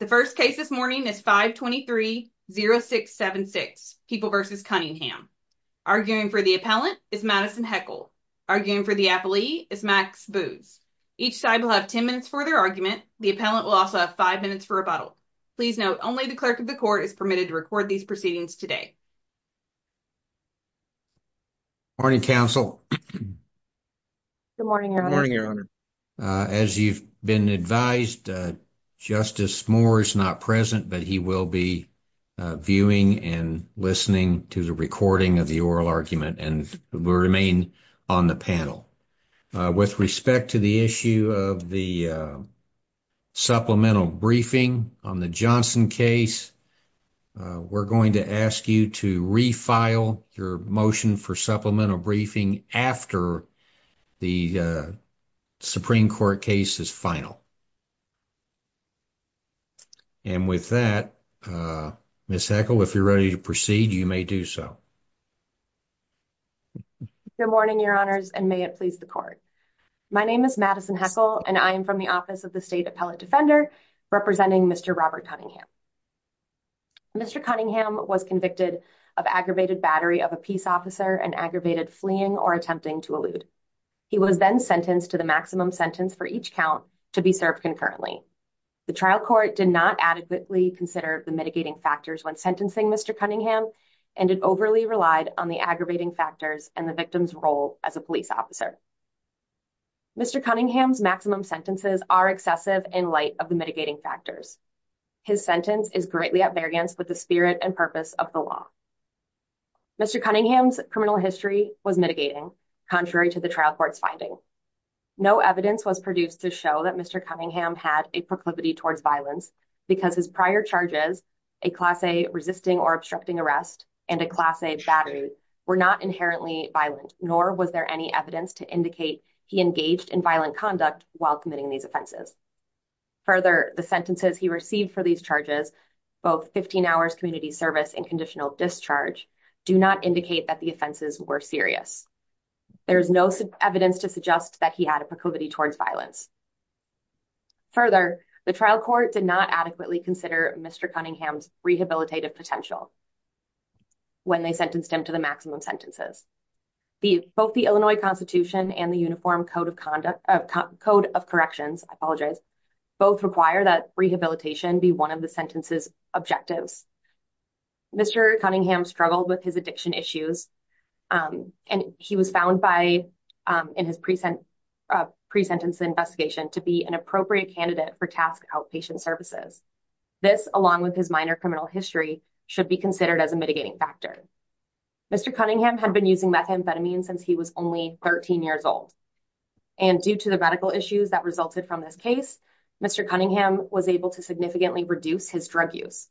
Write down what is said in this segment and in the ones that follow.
The first case this morning is 523-0676, People v. Cunningham. Arguing for the appellant is Madison Heckel. Arguing for the appellee is Max Booz. Each side will have 10 minutes for their argument. The appellant will also have 5 minutes for rebuttal. Please note, only the clerk of the court is permitted to record these proceedings today. Morning, counsel. Good morning, your honor. As you've been advised, Justice Moore is not present, but he will be viewing and listening to the recording of the oral argument and will remain on the panel. With respect to the issue of the supplemental briefing on the Johnson case, we're going to ask you to refile your motion for supplemental briefing after the Supreme Court case is final. And with that, Ms. Heckel, if you're ready to proceed, you may do so. Good morning, your honors, and may it please the court. My name is Madison Heckel, and I am from the Office of the State Appellate Defender representing Mr. Robert Cunningham. Mr. Cunningham was convicted of aggravated battery of a peace officer and aggravated fleeing or attempting to elude. He was then sentenced to the maximum sentence for each count to be served concurrently. The trial court did not adequately consider the mitigating factors when sentencing Mr. Cunningham and it overly relied on the aggravating factors and the victim's role as a police officer. Mr. Cunningham's maximum sentences are excessive in light of the mitigating factors. His sentence is greatly at variance with the spirit and purpose of the law. Mr. Cunningham's criminal history was mitigating, contrary to the trial court's finding. No evidence was produced to show that Mr. Cunningham had a proclivity towards violence because his prior charges, a class A resisting or obstructing arrest and a class A battery, were not inherently violent, nor was there any evidence to indicate he engaged in violent conduct while committing these offenses. Further, the sentences he received for these charges, both 15 hours community service and conditional discharge, do not indicate that the offenses were serious. There is no evidence to suggest that he had a proclivity towards violence. Further, the trial court did not adequately consider Mr. Cunningham's rehabilitative potential when they sentenced him to the maximum sentences. Both the Illinois Constitution and the Uniform Code of Corrections both require that rehabilitation be one of the sentences' objectives. Mr. Cunningham struggled with his addiction issues, and he was found in his pre-sentence investigation to be an appropriate candidate for task outpatient services. This, along with his minor criminal history, should be considered as a mitigating factor. Mr. Cunningham had been using methamphetamine since he was only 13 years old, and due to the medical issues that resulted from this case, Mr. Cunningham was able to significantly reduce his drug use.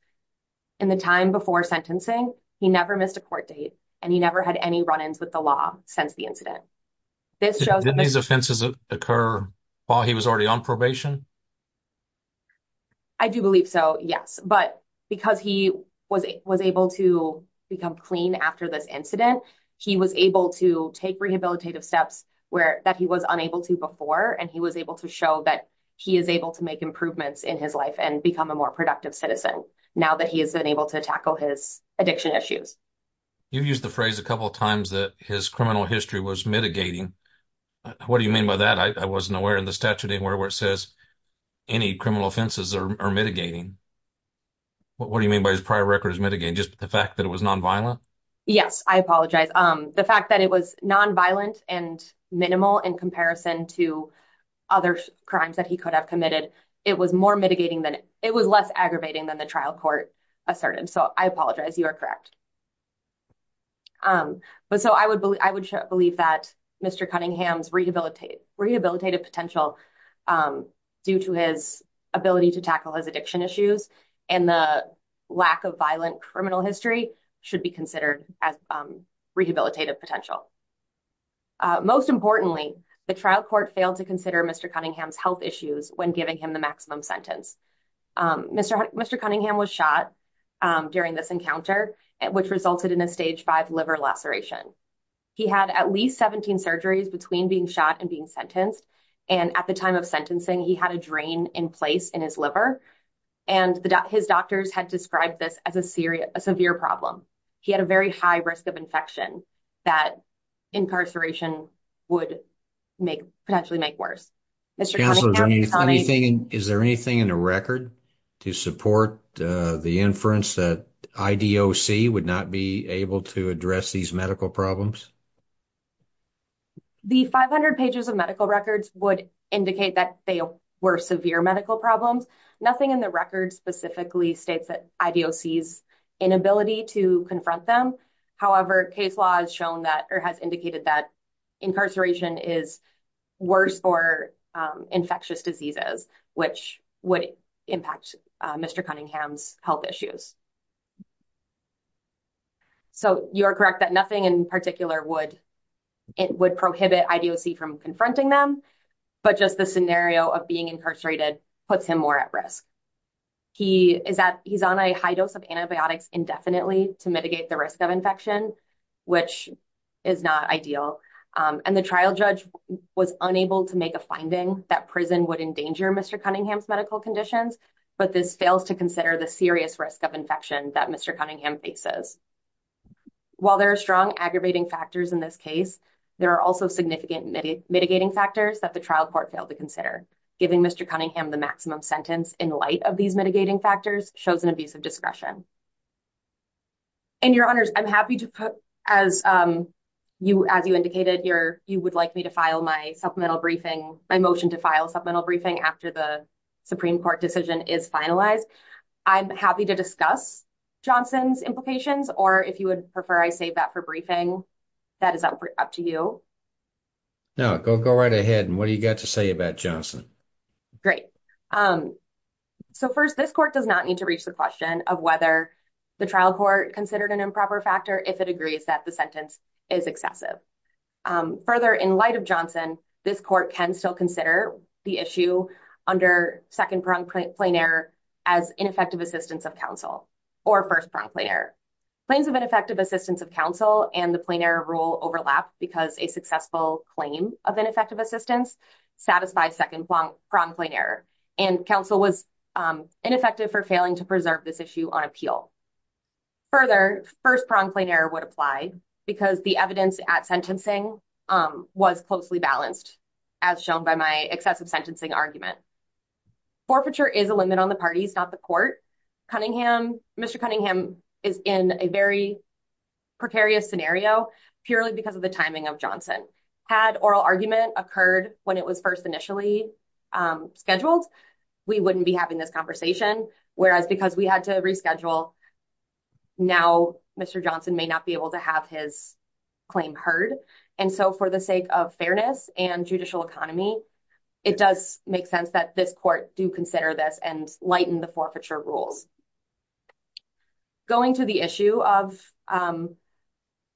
In the time before sentencing, he never missed a court date, and he never had any run-ins with the law since the incident. Did these offenses occur while he was already on probation? I do believe so, yes, but because he was able to become clean after this incident, he was able to take rehabilitative steps that he was unable to before, and he was able to show that he is able to make improvements in his life and become a more productive citizen now that he has been able to tackle his addiction issues. You've used the phrase a couple of times that his criminal history was mitigating. What do you mean by that? I wasn't aware in the statute anywhere where it says any criminal offenses are mitigating. What do you mean by his prior record is mitigating? Just the fact that it was non-violent? Yes, I apologize. The fact that it was non-violent and minimal in comparison to other crimes that he could have committed, it was less aggravating than the trial court asserted, so I apologize, you are correct. I would believe that Mr. Cunningham's rehabilitative potential due to his ability to tackle his addiction issues and the lack of violent criminal history should be considered as rehabilitative potential. Most importantly, the trial court failed to consider Mr. Cunningham's health issues when giving him the maximum sentence. Mr. Cunningham was shot during this encounter, which resulted in a stage five liver laceration. He had at least 17 surgeries between being shot and being sentenced, and at the time of sentencing, he had a drain in place in his liver, and his doctors had described this as a severe problem. He had a very high risk of infection that incarceration would potentially make worse. Is there anything in the record to support the inference that IDOC would not be able to address these medical problems? The 500 pages of medical records would indicate that they were severe medical problems. Nothing in the record specifically states that IDOC's inability to confront them. However, case law has indicated that incarceration is worse for infectious diseases, which would impact Mr. Cunningham's health issues. You are correct that nothing in particular would prohibit IDOC from confronting them, but just the scenario of being incarcerated puts him more at risk. He is on a high dose of antibiotics indefinitely to mitigate the risk of infection, which is not ideal. The trial judge was unable to make a finding that prison would endanger Mr. Cunningham's medical conditions, but this fails to consider the serious risk of infection that Mr. Cunningham faces. While there are strong aggravating factors in this case, there are also significant mitigating factors that the trial court failed to consider, giving Mr. Cunningham the maximum sentence in these mitigating factors shows an abuse of discretion. And your honors, I'm happy to put, as you indicated, you would like me to file my supplemental briefing, my motion to file supplemental briefing after the Supreme Court decision is finalized. I'm happy to discuss Johnson's implications, or if you would prefer I save that for briefing, that is up to you. No, go right ahead and what do you got to say about Johnson? Great. So first this court does not need to reach the question of whether the trial court considered an improper factor if it agrees that the sentence is excessive. Further in light of Johnson, this court can still consider the issue under second pronged plain error as ineffective assistance of counsel or first pronged plain error. Plains of ineffective assistance of counsel and the plain error rule overlap because a successful claim of ineffective assistance satisfied second pronged plain error and counsel was ineffective for failing to preserve this issue on appeal. Further, first pronged plain error would apply because the evidence at sentencing was closely balanced as shown by my excessive sentencing argument. Forfeiture is a limit on the parties, not the court. Mr. Cunningham is in a very precarious scenario purely because of the timing of Johnson. Had oral argument occurred when it was first initially scheduled, we wouldn't be having this conversation, whereas because we had to reschedule, now Mr. Johnson may not be able to have his claim heard. And so for the sake of fairness and judicial economy, it does make sense that this court do consider this and lighten the forfeiture rules. Going to the issue of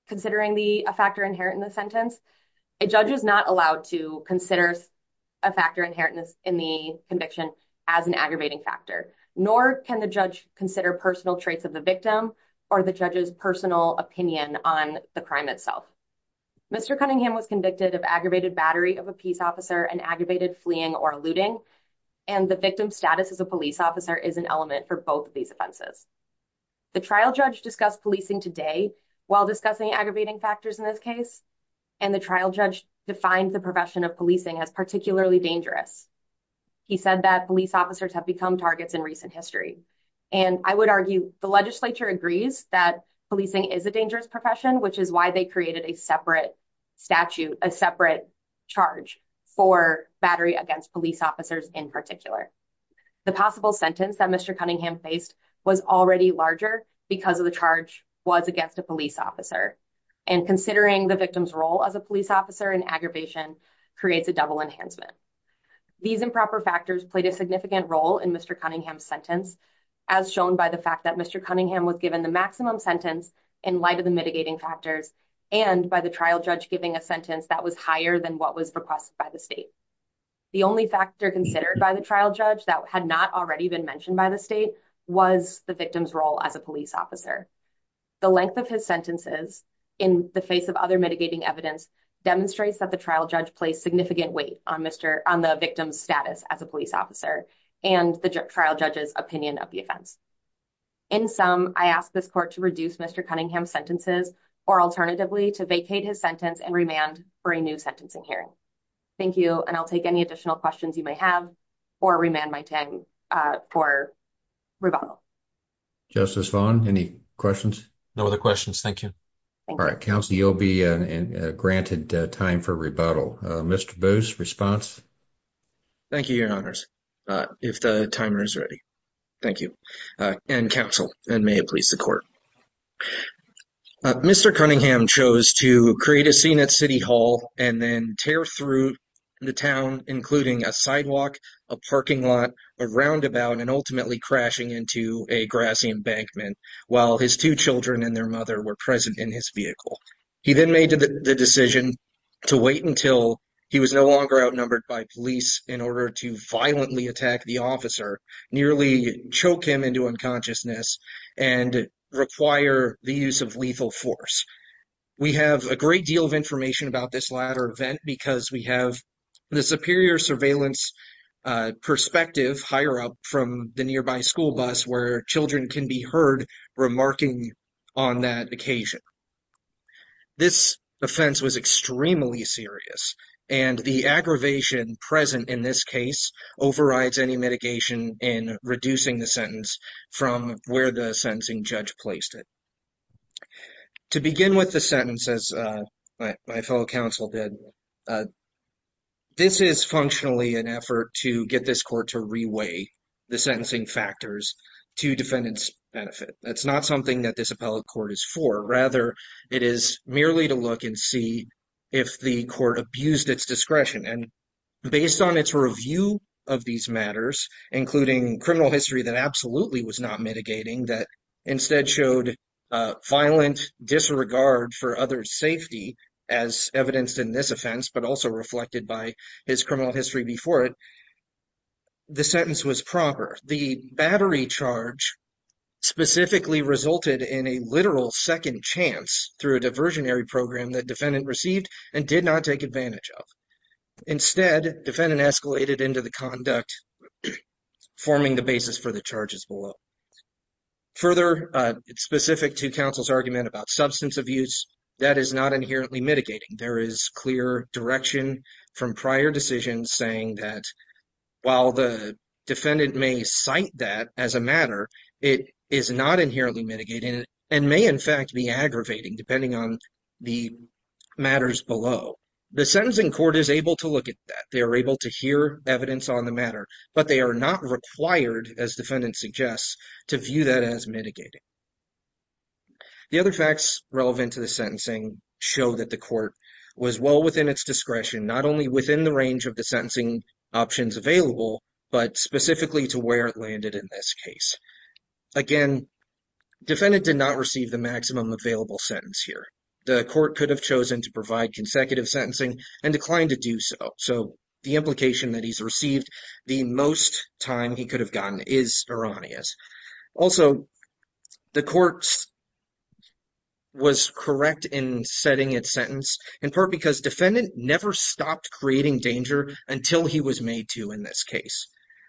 considering the factor inherent in the sentence, a judge is not allowed to consider a factor inherent in the conviction as an aggravating factor, nor can the judge consider personal traits of the victim or the judge's personal opinion on the crime itself. Mr. Cunningham was convicted of aggravated battery of a peace officer and aggravated fleeing or offenses. The trial judge discussed policing today while discussing aggravating factors in this case, and the trial judge defined the profession of policing as particularly dangerous. He said that police officers have become targets in recent history. And I would argue the legislature agrees that policing is a dangerous profession, which is why they created a separate statute, a separate charge for battery against police officers in particular. The possible sentence that Mr. Cunningham faced was already larger because of the charge was against a police officer and considering the victim's role as a police officer in aggravation creates a double enhancement. These improper factors played a significant role in Mr. Cunningham's sentence, as shown by the fact that Mr. Cunningham was given the maximum sentence in light of the mitigating factors and by the trial judge giving a sentence that was higher than what was requested by the The only factor considered by the trial judge that had not already been mentioned by the state was the victim's role as a police officer. The length of his sentences in the face of other mitigating evidence demonstrates that the trial judge placed significant weight on the victim's status as a police officer and the trial judge's opinion of the offense. In sum, I ask this court to reduce Mr. Cunningham's sentences or alternatively to vacate his sentence and remand for a new hearing. Thank you, and I'll take any additional questions you may have or remand my time for rebuttal. Justice Vaughn, any questions? No other questions, thank you. All right, counsel, you'll be granted time for rebuttal. Mr. Boos, response? Thank you, your honors. If the timer is ready, thank you. And counsel, and may it please the court. Mr. Cunningham chose to create a scene at City Hall and then tear through the town, including a sidewalk, a parking lot, a roundabout, and ultimately crashing into a grassy embankment while his two children and their mother were present in his vehicle. He then made the decision to wait until he was no longer outnumbered by police in order to violently attack the officer, nearly choke him into unconsciousness, and require the use of lethal force. We have a great deal of information about this latter event because we have the superior surveillance perspective higher up from the nearby school bus where children can be heard remarking on that occasion. This offense was extremely serious, and the aggravation present in this case overrides any mitigation in reducing the sentence from where the sentencing judge placed it. To begin with the sentence, as my fellow counsel did, this is functionally an effort to get this court to reweigh the sentencing factors to defendant's benefit. That's not something that this appellate court is for. Rather, it is merely to look and see if the court abused its discretion, and based on its review of these matters, including criminal history that absolutely was not mitigating, that instead showed violent disregard for others' safety as evidenced in this offense, but also reflected by his criminal history before it, the sentence was proper. The battery charge specifically resulted in a literal second chance through a diversionary program that defendant received and did not take advantage of. Instead, defendant escalated into the conduct, forming the basis for the charges below. Further, specific to counsel's argument about substance abuse, that is not inherently mitigating. There is clear direction from prior decisions saying that while the defendant may cite that as a matter, it is not inherently mitigating and may, in fact, be aggravating depending on the matters below. The sentencing court is able to look at that. They are able to hear evidence on the matter, but they are not required, as defendant suggests, to view that as mitigating. The other facts relevant to the sentencing show that the court was well within its discretion, not only within the range of the sentencing options available, but specifically to where it landed in this case. Again, defendant did not receive the maximum available sentence here. The court could have chosen to provide consecutive sentencing and declined to do so, so the implication that he's received the most time he could have gotten is erroneous. Also, the court was correct in setting its sentence, in part because defendant never stopped creating danger until he was made to in this case.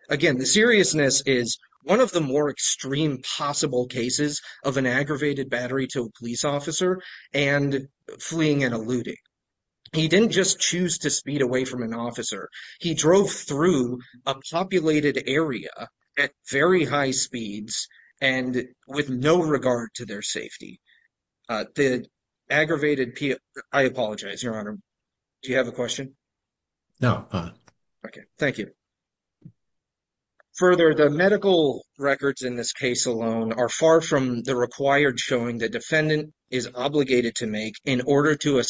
Again, the seriousness is one of the more extreme possible cases of an aggravated battery to a police officer and fleeing and eluding. He didn't just choose to speed away from an officer. He drove through a populated area at very high speeds and with no Okay, thank you. Further, the medical records in this case alone are far from the required showing the defendant is obligated to make in order to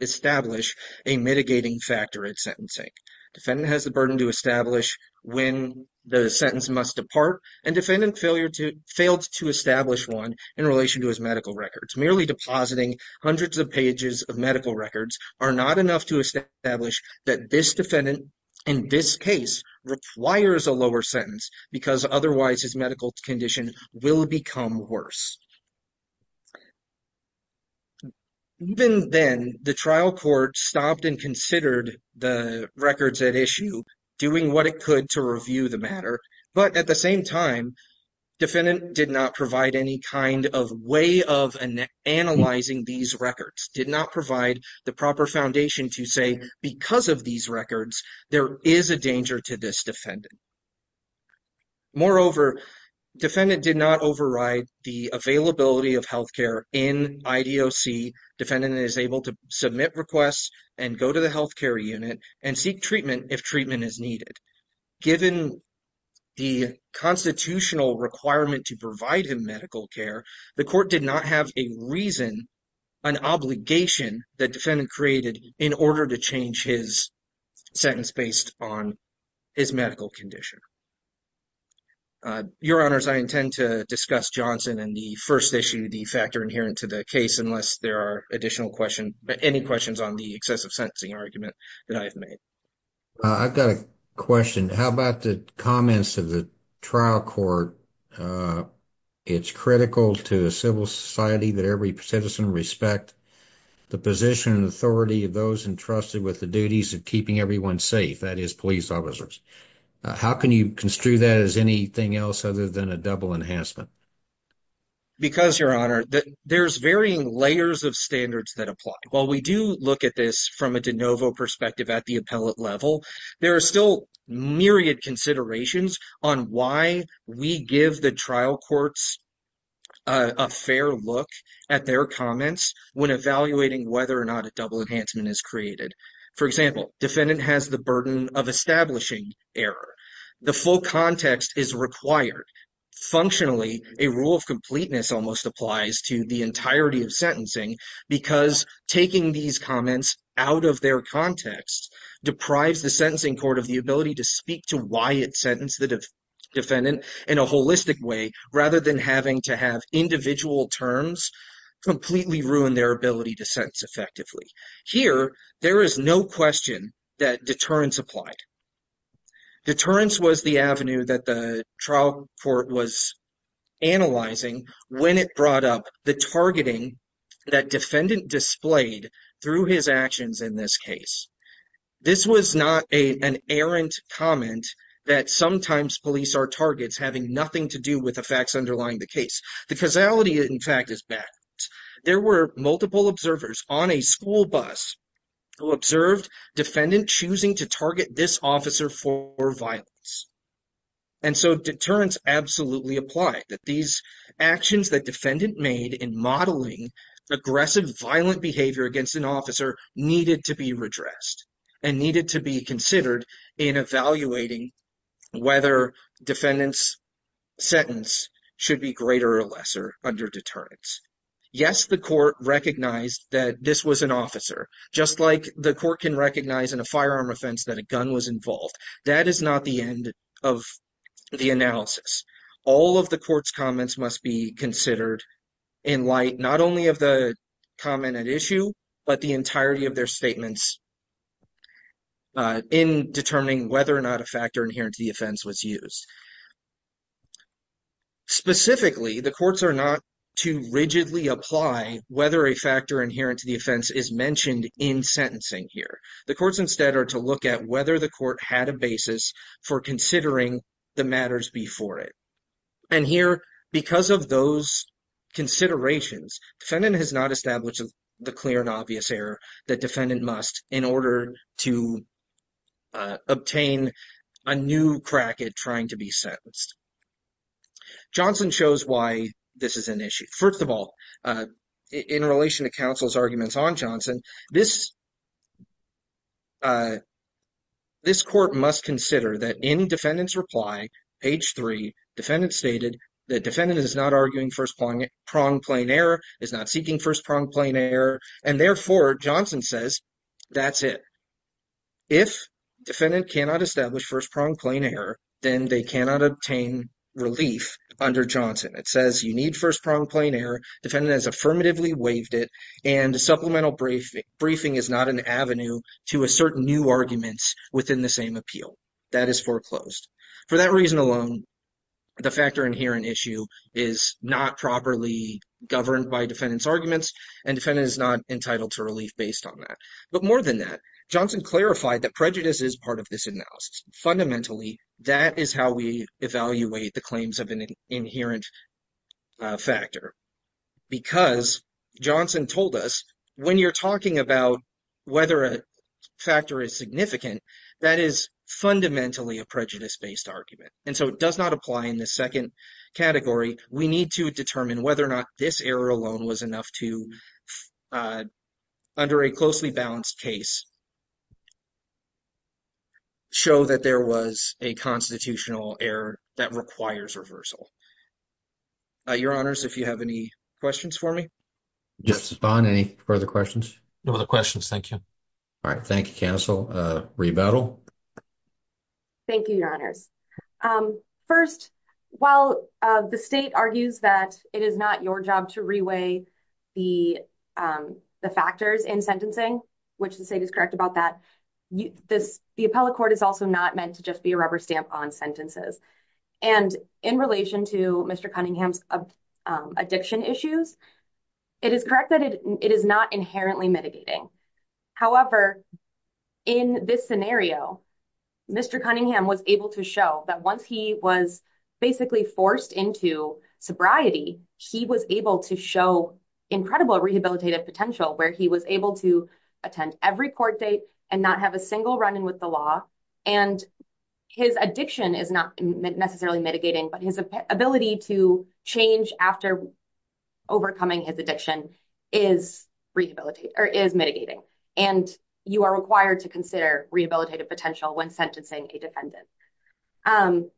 establish a mitigating factor at sentencing. Defendant has the burden to establish when the sentence must depart, and defendant failed to establish one in relation to his medical records. Merely depositing hundreds of pages of medical records are not enough to establish that this defendant in this case requires a lower sentence because otherwise his medical condition will become worse. Even then, the trial court stopped and considered the records at issue, doing what it could to review the matter, but at the same time, defendant did not provide any kind of way of analyzing these records, did not provide the proper foundation to say because of these records, there is a danger to this defendant. Moreover, defendant did not override the availability of health care in IDOC. Defendant is able to submit requests and go to the health care unit and seek treatment if treatment is needed. Given the constitutional requirement to provide him medical care, the court did not have a reason, an obligation that defendant created in order to change his sentence based on his medical condition. Your Honors, I intend to discuss Johnson and the first issue, the factor inherent to the case, unless there are additional questions, but any questions on the excessive sentencing argument that I've made. I've got a question. How about the comments of the trial court? It's critical to the civil society that every citizen respect the position and authority of those entrusted with the duties of keeping everyone safe, that is police officers. How can you construe that as anything else other than a double enhancement? Because, Your Honor, there's varying layers of standards that apply. While we do look at this from a de novo perspective at the appellate level, there are still myriad considerations on why we give the trial courts a fair look at their comments when evaluating whether or not a double enhancement is created. For example, defendant has the burden of establishing error. The full context is required. Functionally, a rule of completeness almost applies to the entirety of sentencing because taking these comments out of their context deprives the sentencing court of the ability to speak to why it sentenced the defendant in a holistic way rather than having to have individual terms completely ruin their ability to sentence effectively. Here, there is no question that deterrence applied. Deterrence was the avenue that the trial court was analyzing when it brought up the targeting that defendant displayed through his actions in this case. This was not an errant comment that sometimes police are targets having nothing to do with the facts underlying the case. The causality, in fact, is bad. There were multiple observers on a school bus who observed defendant choosing to target this officer for violence. And so deterrence absolutely applied that these actions that defendant made in modeling aggressive violent behavior against an officer needed to be redressed and needed to be considered in evaluating whether defendant's sentence should be greater or lesser under deterrence. Yes, the court recognized that this was an officer just like the court can recognize in a firearm offense that a gun was involved. That is not the of the analysis. All of the court's comments must be considered in light not only of the comment at issue but the entirety of their statements in determining whether or not a factor inherent to the offense was used. Specifically, the courts are not to rigidly apply whether a factor inherent to the offense is mentioned in sentencing here. The courts instead are to look at whether the court had a basis for considering the matters before it. And here because of those considerations, defendant has not established the clear and obvious error that defendant must in order to obtain a new crack at trying to be sentenced. Johnson shows why this is an issue. First of all, in relation to on Johnson, this court must consider that in defendant's reply, page three, defendant stated that defendant is not arguing first pronged plain error, is not seeking first pronged plain error, and therefore Johnson says that's it. If defendant cannot establish first pronged plain error, then they cannot obtain relief under Johnson. It says you need first pronged plain error, defendant has affirmatively waived it, and supplemental briefing is not an avenue to assert new arguments within the same appeal. That is foreclosed. For that reason alone, the factor inherent issue is not properly governed by defendant's arguments and defendant is not entitled to relief based on that. But more than that, Johnson clarified that prejudice is part of this analysis. Fundamentally, that is how we evaluate the claims of an inherent factor. Because Johnson told us, when you're talking about whether a factor is significant, that is fundamentally a prejudice-based argument. And so it does not apply in the second category. We need to determine whether or not this error alone was enough to, under a closely balanced case, show that there was a constitutional error that requires reversal. Your honors, if you have any questions for me. Justice Bond, any further questions? No other questions, thank you. All right, thank you, counsel. Rebuttal. Thank you, your honors. First, while the state argues that it is not your job to reweigh the factors in sentencing, which the state is correct about that, the appellate court is also not meant to just be a rubber stamp on sentences. And in relation to Mr. Cunningham's addiction issues, it is correct that it is not inherently mitigating. However, in this scenario, Mr. Cunningham was able to show that once he was basically forced into sobriety, he was able to show incredible rehabilitative potential, where he was able to attend every court date and not have a single run-in with the law. And his addiction is not necessarily mitigating, but his ability to change after overcoming his addiction is mitigating. And you are required to consider rehabilitative potential when sentencing a defendant.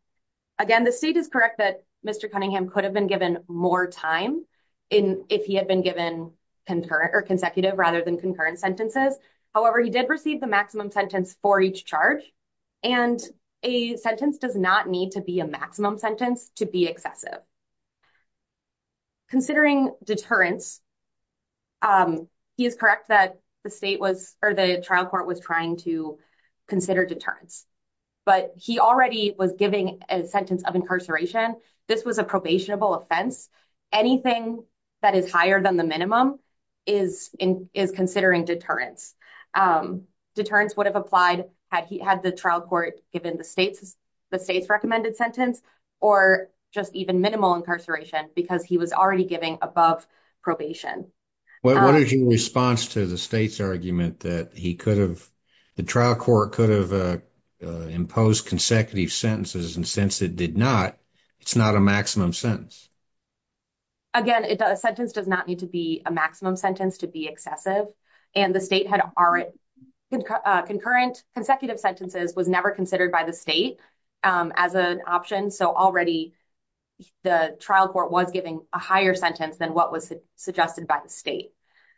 Again, the state is correct that Mr. Cunningham could have been given more time if he had been given consecutive rather than concurrent sentences. However, he did receive the maximum sentence for each charge, and a sentence does not need to be a maximum sentence to be excessive. Considering deterrence, he is correct that the trial court was trying to consider deterrence, but he already was giving a sentence of incarceration. This was a probationable offense. Anything that is higher than the minimum is considering deterrence. Deterrence would have applied had the trial court given the state's recommended sentence or just even minimal incarceration because he was already giving above probation. What is your response to the state's argument that the trial court could have imposed consecutive sentences, and since it did not, it's not a maximum sentence? Again, a sentence does not need to be a maximum sentence to be excessive, and the state had concurrent consecutive sentences was never considered by the state as an option, so already the trial court was giving a higher sentence than what was suggested by the state.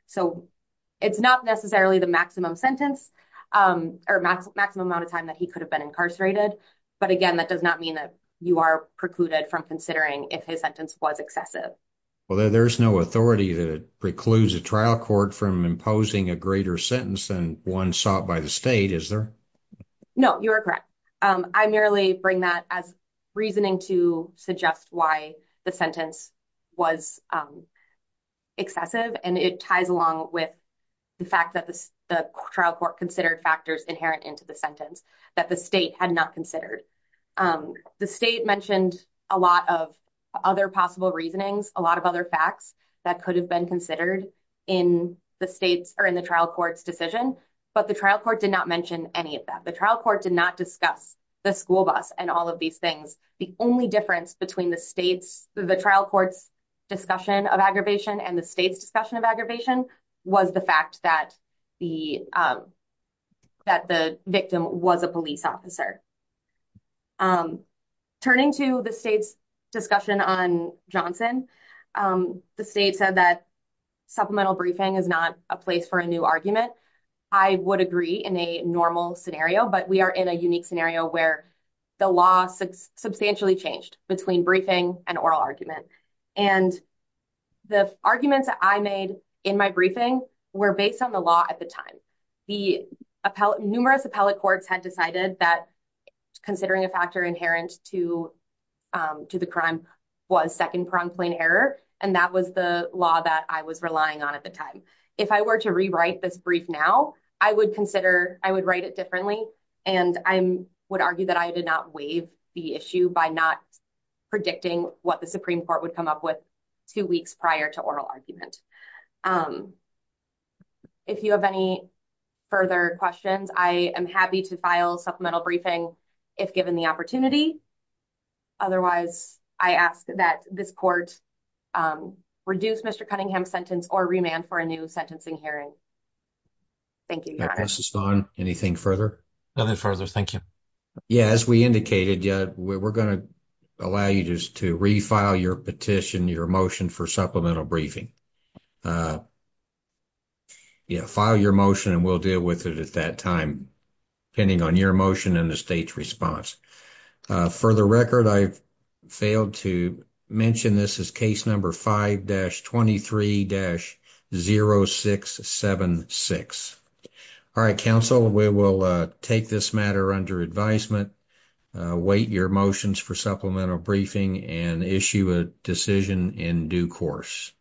So it's not necessarily the maximum sentence or maximum amount of time that he could have been incarcerated, but again, that does not mean that you are precluded from considering if his sentence was excessive. Well, there's no authority that precludes a trial court from imposing a greater sentence than one sought by the state, is there? No, you are correct. I merely bring that as reasoning to suggest why the sentence was excessive, and it ties along with the fact that the trial court considered factors inherent into sentence that the state had not considered. The state mentioned a lot of other possible reasonings, a lot of other facts that could have been considered in the trial court's decision, but the trial court did not mention any of that. The trial court did not discuss the school bus and all of these things. The only difference between the trial court's discussion of aggravation and the state's discussion of aggravation was the fact that the victim was a police officer. Turning to the state's discussion on Johnson, the state said that supplemental briefing is not a place for a new argument. I would agree in a normal scenario, but we are in a unique scenario where the law substantially changed between briefing and oral argument. The arguments that I made in my briefing were based on the law at the time. Numerous appellate courts had decided that considering a factor inherent to the crime was second-pronged plain error, and that was the law that I was relying on at the time. If I were to rewrite this brief now, I would write it differently, and I would argue that I did not believe the issue by not predicting what the Supreme Court would come up with two weeks prior to oral argument. If you have any further questions, I am happy to file supplemental briefing if given the opportunity. Otherwise, I ask that this court reduce Mr. Cunningham's sentence or remand for a new sentencing hearing. Thank you, Your Honor. That passes on. Anything further? Nothing further. Thank you. Yeah, as we indicated, we're going to allow you just to refile your petition, your motion for supplemental briefing. Yeah, file your motion, and we'll deal with it at that time, depending on your motion and the state's response. For the record, I've failed to mention this as case number 5-23-0676. All right, counsel, we will take this matter under advisement. Await your motions for supplemental briefing and issue a decision in due course.